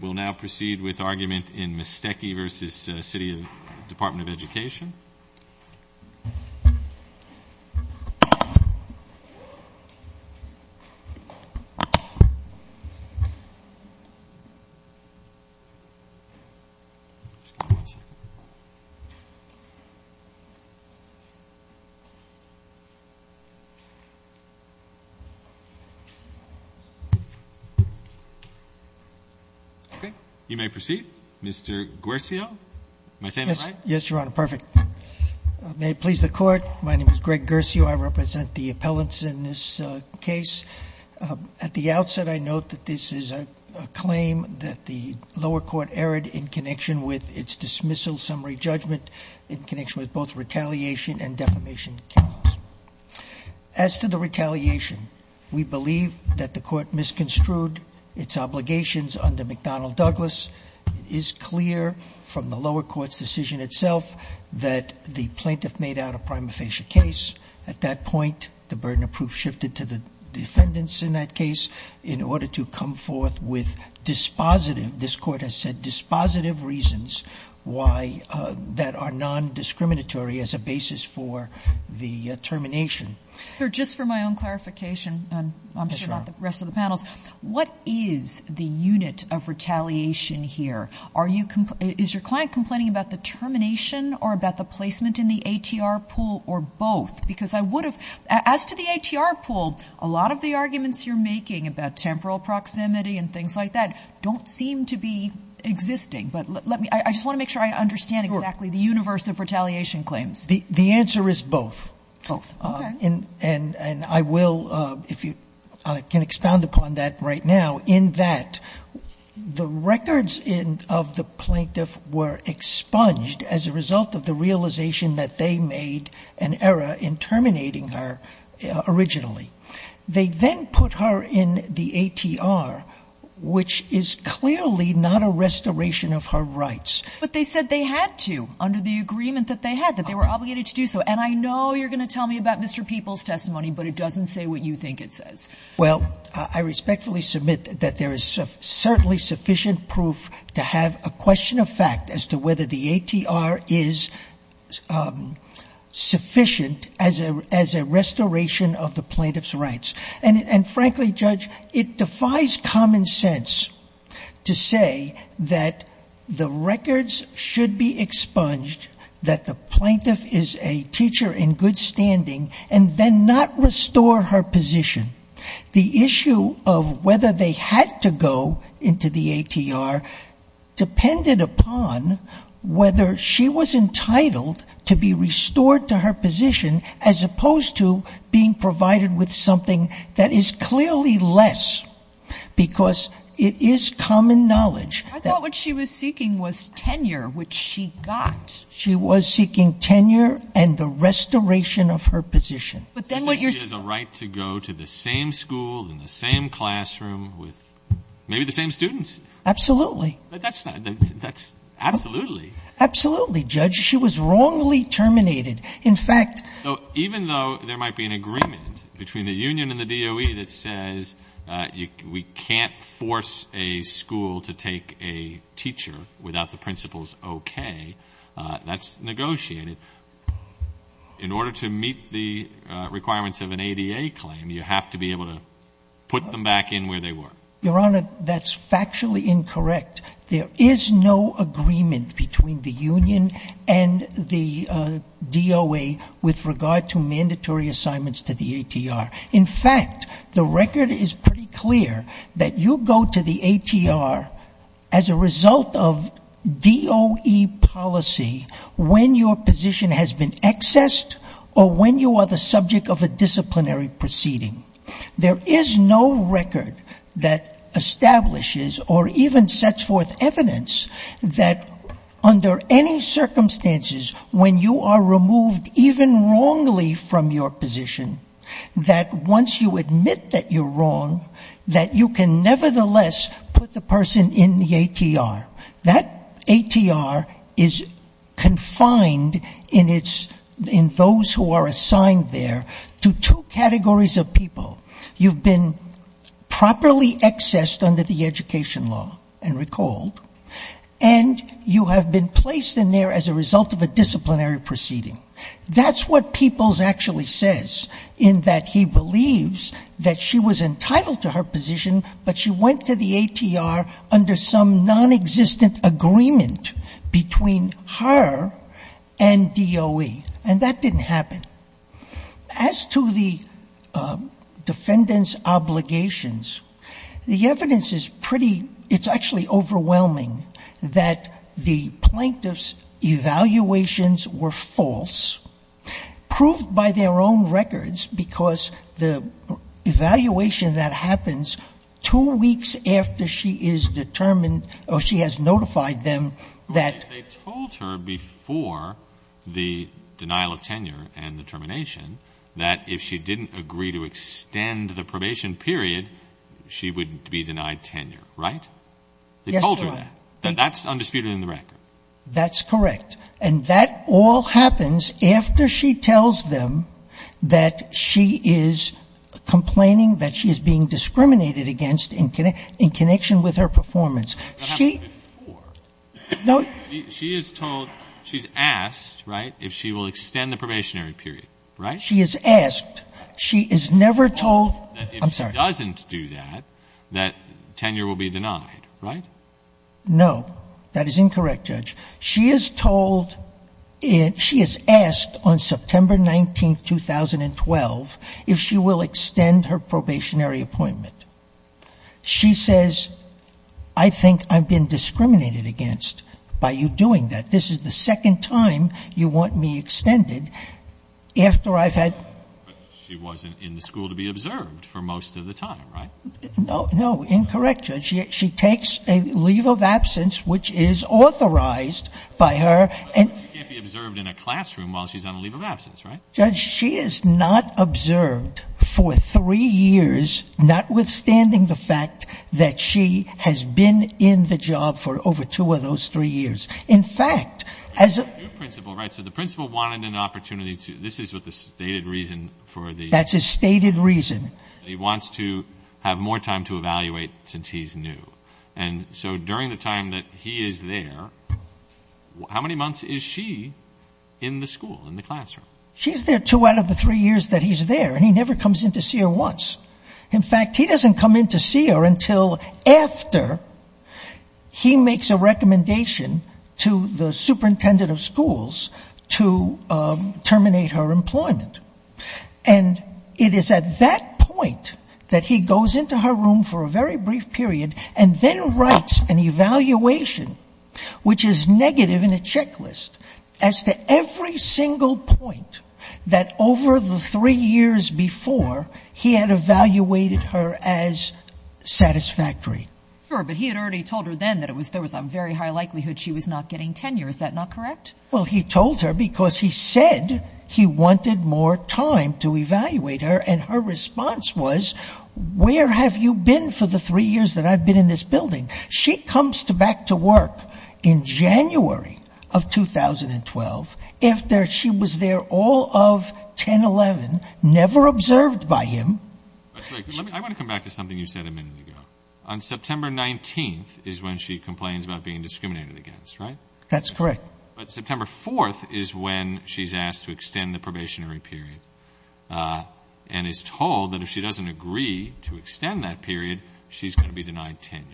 We'll now proceed with argument in Mestecky v. City Department of Education. Okay. You may proceed. Mr. Guercio, am I saying this right? Yes, Your Honor. Perfect. May it please the Court, my name is Greg Guercio. I represent the appellants in this case. At the outset, I note that this is a claim that the lower court erred in connection with its dismissal summary judgment in connection with both retaliation and defamation counts. As to the retaliation, we believe that the court misconstrued its obligations under McDonnell-Douglas. It is clear from the lower court's decision itself that the plaintiff made out a prima facie case. At that point, the burden of proof shifted to the defendants in that case in order to come forth with dispositive, this court has said, dispositive reasons that are non-discriminatory as a basis for the termination. Sir, just for my own clarification, and I'm sure about the rest of the panels, what is the unit of retaliation here? Is your client complaining about the termination or about the placement in the ATR pool or both? Because I would have, as to the ATR pool, a lot of the arguments you're making about temporal proximity and things like that don't seem to be existing. But let me – I just want to make sure I understand exactly the universe of retaliation claims. The answer is both. Both. Okay. And I will, if you can expound upon that right now, in that the records of the plaintiff were expunged as a result of the realization that they made an error in terminating her originally. They then put her in the ATR, which is clearly not a restoration of her rights. But they said they had to, under the agreement that they had, that they were obligated to do so. And I know you're going to tell me about Mr. Peoples' testimony, but it doesn't say what you think it says. Well, I respectfully submit that there is certainly sufficient proof to have a question of fact as to whether the ATR is sufficient as a restoration of the plaintiff's rights. And frankly, Judge, it defies common sense to say that the records should be expunged, that the plaintiff is a teacher in good standing, and then not restore her position. The issue of whether they had to go into the ATR depended upon whether she was entitled to be restored to her position as opposed to being provided with something that is clearly less, because it is common knowledge. I thought what she was seeking was tenure, which she got. She was seeking tenure and the restoration of her position. So she has a right to go to the same school, in the same classroom, with maybe the same students. Absolutely. That's absolutely. Absolutely, Judge. She was wrongly terminated. In fact, Even though there might be an agreement between the union and the DOE that says we can't force a school to take a teacher without the principal's okay, that's negotiated. In order to meet the requirements of an ADA claim, you have to be able to put them back in where they were. Your Honor, that's factually incorrect. There is no agreement between the union and the DOE with regard to mandatory assignments to the ATR. In fact, the record is pretty clear that you go to the ATR as a result of DOE policy when your position has been accessed or when you are the subject of a disciplinary proceeding. There is no record that establishes or even sets forth evidence that under any circumstances, when you are removed even wrongly from your position, that once you admit that you're wrong, that you can nevertheless put the person in the ATR. That ATR is confined in its, in those who are assigned there, to two categories of people. You've been properly accessed under the education law, and recalled, and you have been placed in there as a result of a disciplinary proceeding. That's what Peoples actually says, in that he believes that she was entitled to her position, but she went to the ATR under some nonexistent agreement between her and DOE. And that didn't happen. As to the defendant's obligations, the evidence is pretty, it's actually overwhelming, that the plaintiff's evaluations were false, proved by their own records, because the evaluation that happens two weeks after she is determined or she has notified them that they told her before the denial of tenure and the termination, that if she didn't agree to extend the probation period, she would be denied tenure. Right? They told her that. That's undisputed in the record. That's correct. And that all happens after she tells them that she is complaining that she is being discriminated against in connection with her performance. She — That happened before. No — She is told, she's asked, right, if she will extend the probationary period. Right? She is asked. She is never told — I'm sorry. That if she doesn't do that, that tenure will be denied. Right? No. That is incorrect, Judge. She is told — she is asked on September 19, 2012, if she will extend her probationary appointment. She says, I think I've been discriminated against by you doing that. This is the second time you want me extended after I've had — But she wasn't in the school to be observed for most of the time, right? No. No. Incorrect, Judge. She takes a leave of absence which is authorized by her and — But she can't be observed in a classroom while she's on a leave of absence, right? Judge, she is not observed for three years, notwithstanding the fact that she has been in the job for over two of those three years. In fact, as a — Your principal, right, so the principal wanted an opportunity to — this is what the stated reason for the — That's his stated reason. He wants to have more time to evaluate since he's new. And so during the time that he is there, how many months is she in the school, in the classroom? She's there two out of the three years that he's there, and he never comes in to see her once. In fact, he doesn't come in to see her until after he makes a recommendation to the superintendent of schools to terminate her employment. And it is at that point that he goes into her room for a very brief period and then writes an evaluation, which is negative in a checklist, as to every single point that over the three years before he had evaluated her as satisfactory. Sure, but he had already told her then that it was — there was a very high likelihood she was not getting tenure. Is that not correct? Well, he told her because he said he wanted more time to evaluate her. And her response was, where have you been for the three years that I've been in this building? She comes back to work in January of 2012 after she was there all of 10-11, never observed by him. I want to come back to something you said a minute ago. On September 19th is when she complains about being discriminated against, right? That's correct. But September 4th is when she's asked to extend the probationary period and is told that if she doesn't agree to extend that period, she's going to be denied tenure.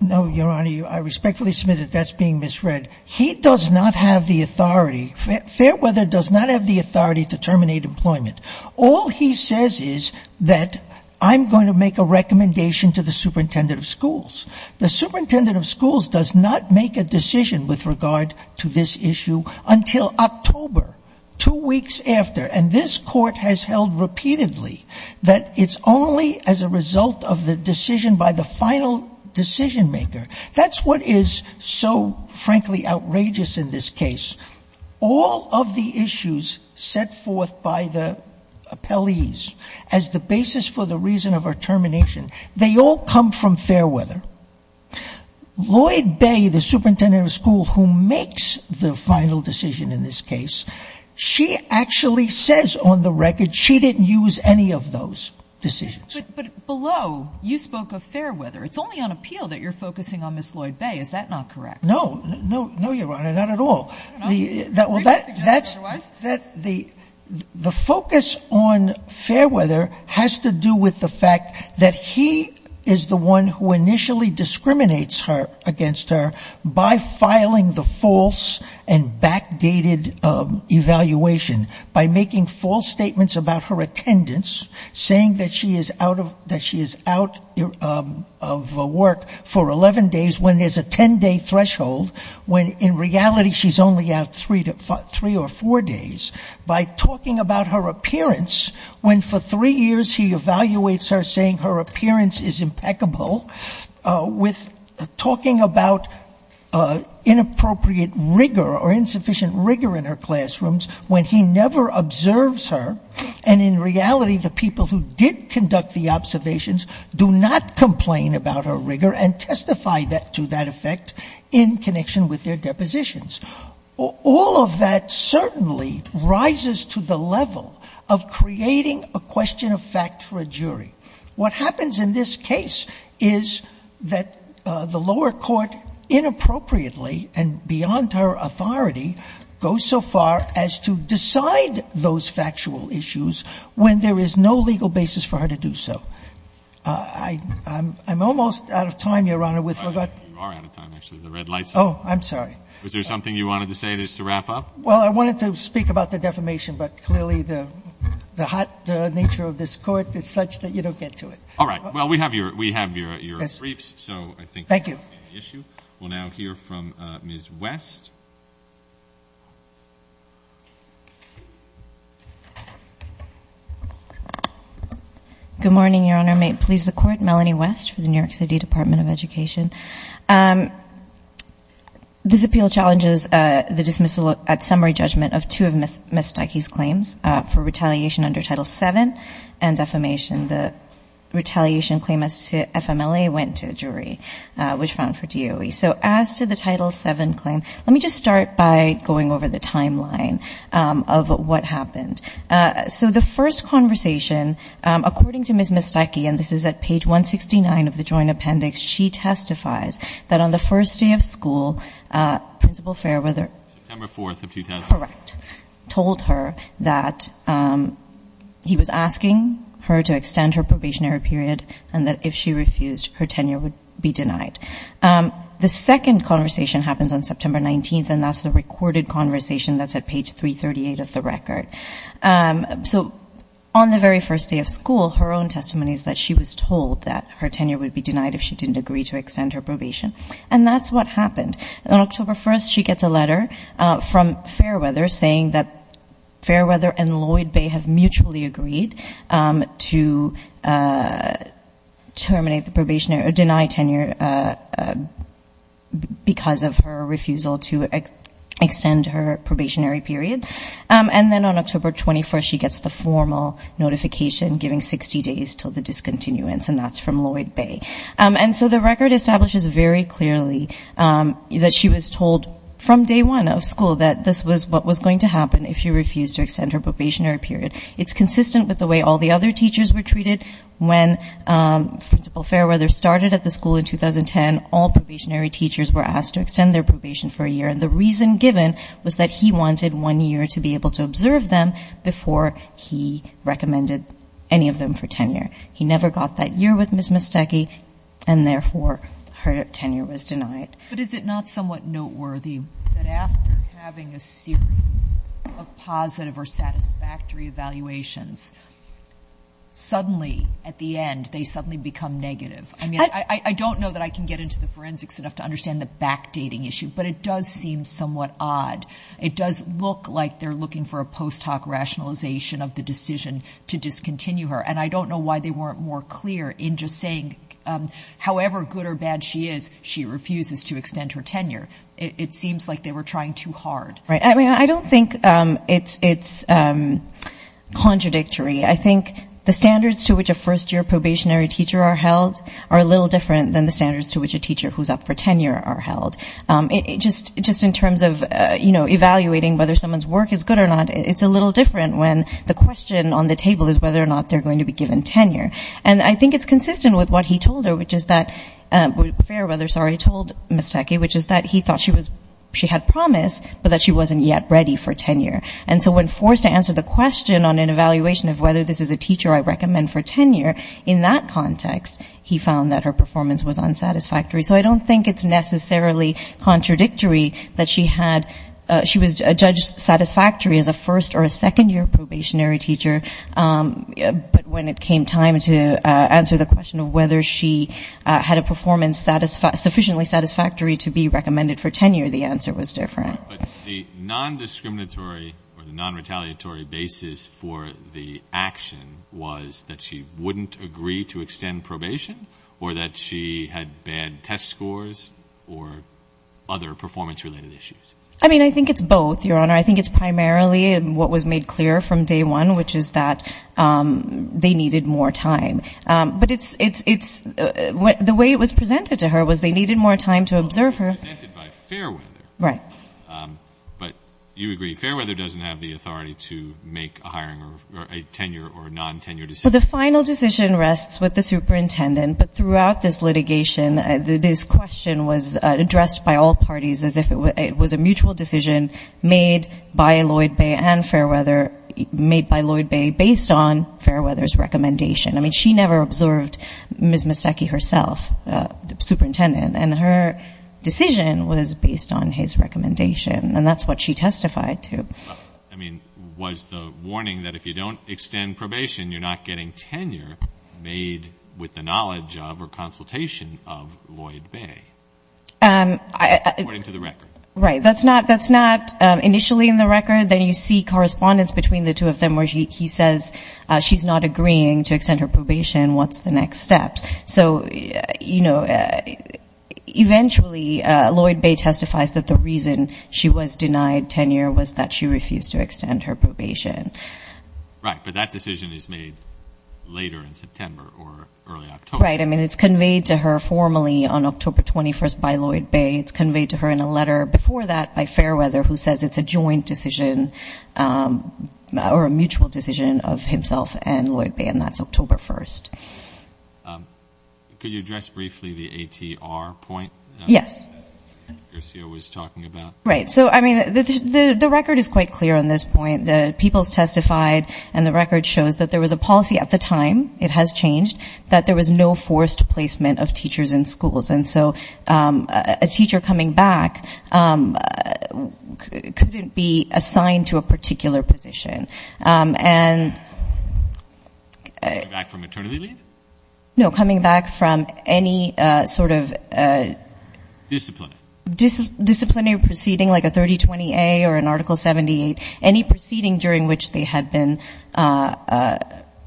No, Your Honor, I respectfully submit that that's being misread. He does not have the authority — Fairweather does not have the authority to terminate employment. All he says is that I'm going to make a recommendation to the superintendent of schools. The superintendent of schools does not make a decision with regard to this issue until October, two weeks after. And this Court has held repeatedly that it's only as a result of the decision by the final decision-maker. That's what is so, frankly, outrageous in this case. All of the issues set forth by the appellees as the basis for the reason of her termination, they all come from Fairweather. Lloyd Bay, the superintendent of schools who makes the final decision in this case, she actually says on the record she didn't use any of those decisions. But below, you spoke of Fairweather. It's only on appeal that you're focusing on Ms. Lloyd Bay. Is that not correct? No, Your Honor, not at all. I don't know. The focus on Fairweather has to do with the fact that he is the one who initially discriminates against her by filing the false and backdated evaluation, by making false statements about her attendance, saying that she is out of work for 11 days when there's a 10-day threshold, when in reality she's only out three or four days, by talking about her appearance when for three years he evaluates her, saying her appearance is impeccable, with talking about inappropriate rigor or insufficient rigor in her classrooms when he never observes her. And in reality, the people who did conduct the observations do not complain about her rigor and testify to that effect in connection with their depositions. All of that certainly rises to the level of creating a question of fact for a jury. What happens in this case is that the lower court inappropriately and beyond her authority goes so far as to decide those factual issues when there is no legal basis for her to do so. I'm almost out of time, Your Honor, with regard to the red lights. Oh, I'm sorry. Is there something you wanted to say just to wrap up? Well, I wanted to speak about the defamation, but clearly the hot nature of this Court is such that you don't get to it. All right. Well, we have your briefs. Thank you. We'll now hear from Ms. West. Good morning, Your Honor. May it please the Court. Melanie West for the New York City Department of Education. This appeal challenges the dismissal at summary judgment of two of Ms. Stuckey's claims for retaliation under Title VII and defamation. The retaliation claim as to FMLA went to a jury, which found for DOE. Let me just start by going over the timeline of what happened. So the first conversation, according to Ms. Stuckey, and this is at page 169 of the joint appendix, she testifies that on the first day of school, Principal Fairweather. September 4th of 2000. Correct. Told her that he was asking her to extend her probationary period and that if she refused, her tenure would be denied. Correct. The second conversation happens on September 19th, and that's the recorded conversation. That's at page 338 of the record. So on the very first day of school, her own testimony is that she was told that her tenure would be denied if she didn't agree to extend her probation. And that's what happened. On October 1st, she gets a letter from Fairweather saying that Fairweather and Lloyd Bay have mutually agreed to terminate the probationary, or deny tenure because of her refusal to extend her probationary period. And then on October 21st, she gets the formal notification giving 60 days till the discontinuance, and that's from Lloyd Bay. And so the record establishes very clearly that she was told from day one of school that this was what was going to happen if she refused to extend her probationary period. It's consistent with the way all the other teachers were treated. When Principal Fairweather started at the school in 2010, all probationary teachers were asked to extend their probation for a year, and the reason given was that he wanted one year to be able to observe them before he recommended any of them for tenure. He never got that year with Ms. Mastecchi, and therefore her tenure was denied. But is it not somewhat noteworthy that after having a series of positive or satisfactory evaluations, suddenly at the end they suddenly become negative? I mean, I don't know that I can get into the forensics enough to understand the backdating issue, but it does seem somewhat odd. It does look like they're looking for a post hoc rationalization of the decision to discontinue her, and I don't know why they weren't more clear in just saying however good or bad she is, she refuses to extend her tenure. It seems like they were trying too hard. I mean, I don't think it's contradictory. I think the standards to which a first-year probationary teacher are held are a little different than the standards to which a teacher who's up for tenure are held. Just in terms of, you know, evaluating whether someone's work is good or not, it's a little different when the question on the table is whether or not they're going to be given tenure. And I think it's consistent with what he told her, which is that, Fairweather, sorry, told Mastecchi, which is that he thought she had promise, but that she wasn't yet ready for tenure. And so when forced to answer the question on an evaluation of whether this is a teacher I recommend for tenure, in that context he found that her performance was unsatisfactory. So I don't think it's necessarily contradictory that she had ‑‑ she was judged satisfactory as a first or a second-year probationary teacher, but when it came time to answer the question of whether she had a performance sufficiently satisfactory to be recommended for tenure, the answer was different. But the nondiscriminatory or the nonretaliatory basis for the action was that she wouldn't agree to extend probation or that she had bad test scores or other performance‑related issues. I mean, I think it's both, Your Honor. I think it's primarily what was made clear from day one, which is that they needed more time. But it's ‑‑ the way it was presented to her was they needed more time to observe her. It was presented by Fairweather. Right. But you agree, Fairweather doesn't have the authority to make a hiring or a tenure or a nontenure decision. Well, the final decision rests with the superintendent. But throughout this litigation this question was addressed by all parties as if it was a mutual decision made by Lloyd Bay and Fairweather, made by Lloyd Bay based on Fairweather's recommendation. I mean, she never observed Ms. Mastecchi herself, the superintendent, and her decision was based on his recommendation, and that's what she testified to. I mean, was the warning that if you don't extend probation you're not getting tenure made with the knowledge of or consultation of Lloyd Bay, according to the record? Right. That's not initially in the record. Then you see correspondence between the two of them where he says she's not agreeing to extend her probation. What's the next step? So, you know, eventually Lloyd Bay testifies that the reason she was denied tenure was that she refused to extend her probation. Right. But that decision is made later in September or early October. Right. I mean, it's conveyed to her formally on October 21st by Lloyd Bay. It's conveyed to her in a letter before that by Fairweather who says it's a joint decision or a mutual decision of himself and Lloyd Bay. And that's October 1st. Could you address briefly the ATR point that Garcia was talking about? Right. So, I mean, the record is quite clear on this point. People's testified and the record shows that there was a policy at the time, it has changed, that there was no forced placement of teachers in schools. And so a teacher coming back couldn't be assigned to a particular position. And... Coming back from maternity leave? No, coming back from any sort of disciplinary proceeding like a 3020A or an Article 78, any proceeding during which they had been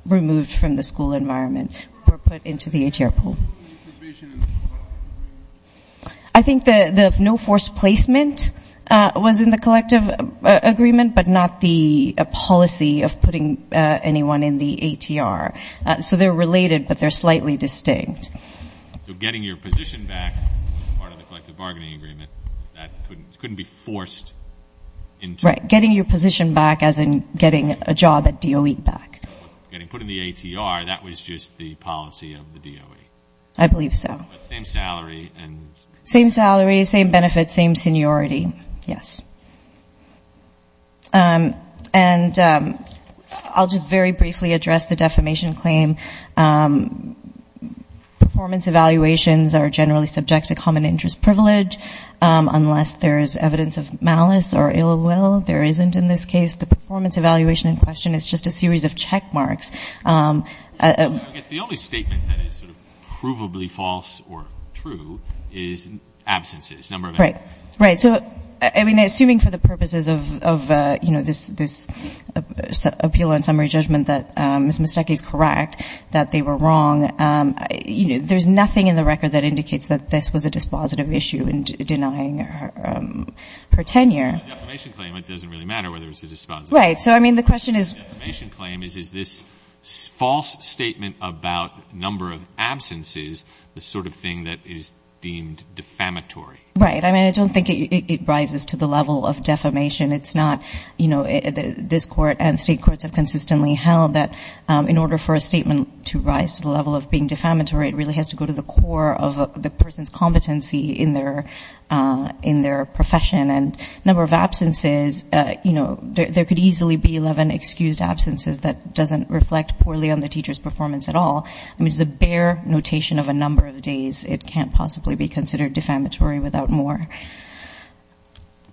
removed from the school environment or put into the ATR pool. I think the no forced placement was in the collective agreement, but not the policy of putting anyone in the ATR. So they're related, but they're slightly distinct. So getting your position back as part of the collective bargaining agreement, that couldn't be forced into... Right. Getting your position back as in getting a job at DOE back. So getting put in the ATR, that was just the policy of the DOE. I believe so. Same salary, same benefits, same seniority. Yes. And I'll just very briefly address the defamation claim. Performance evaluations are generally subject to common interest privilege, unless there is evidence of malice or ill will. There isn't in this case. The performance evaluation in question is just a series of check marks. I guess the only statement that is sort of provably false or true is absences. Right. Right. So, I mean, assuming for the purposes of, you know, this appeal and summary judgment that Ms. Mastecchi is correct, that they were wrong, you know, there's nothing in the record that indicates that this was a dispositive issue in denying her tenure. The defamation claim, it doesn't really matter whether it was a dispositive issue. Right. So, I mean, the question is... The defamation claim is, is this false statement about number of absences the sort of thing that is deemed defamatory? Right. I mean, I don't think it rises to the level of defamation. It's not, you know, this Court and State Courts have consistently held that in order for a statement to rise to the level of being defamatory, the number of absences, you know, there could easily be 11 excused absences that doesn't reflect poorly on the teacher's performance at all. I mean, it's a bare notation of a number of days. It can't possibly be considered defamatory without more.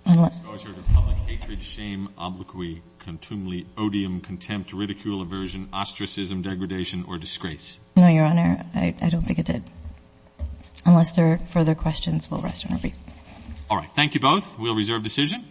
Disclosure to public, hatred, shame, obloquy, contumely, odium, contempt, ridicule, aversion, ostracism, degradation or disgrace. No, Your Honor. I don't think it did. Unless there are further questions, we'll rest and repeat. All right. Thank you both. We'll reserve decision.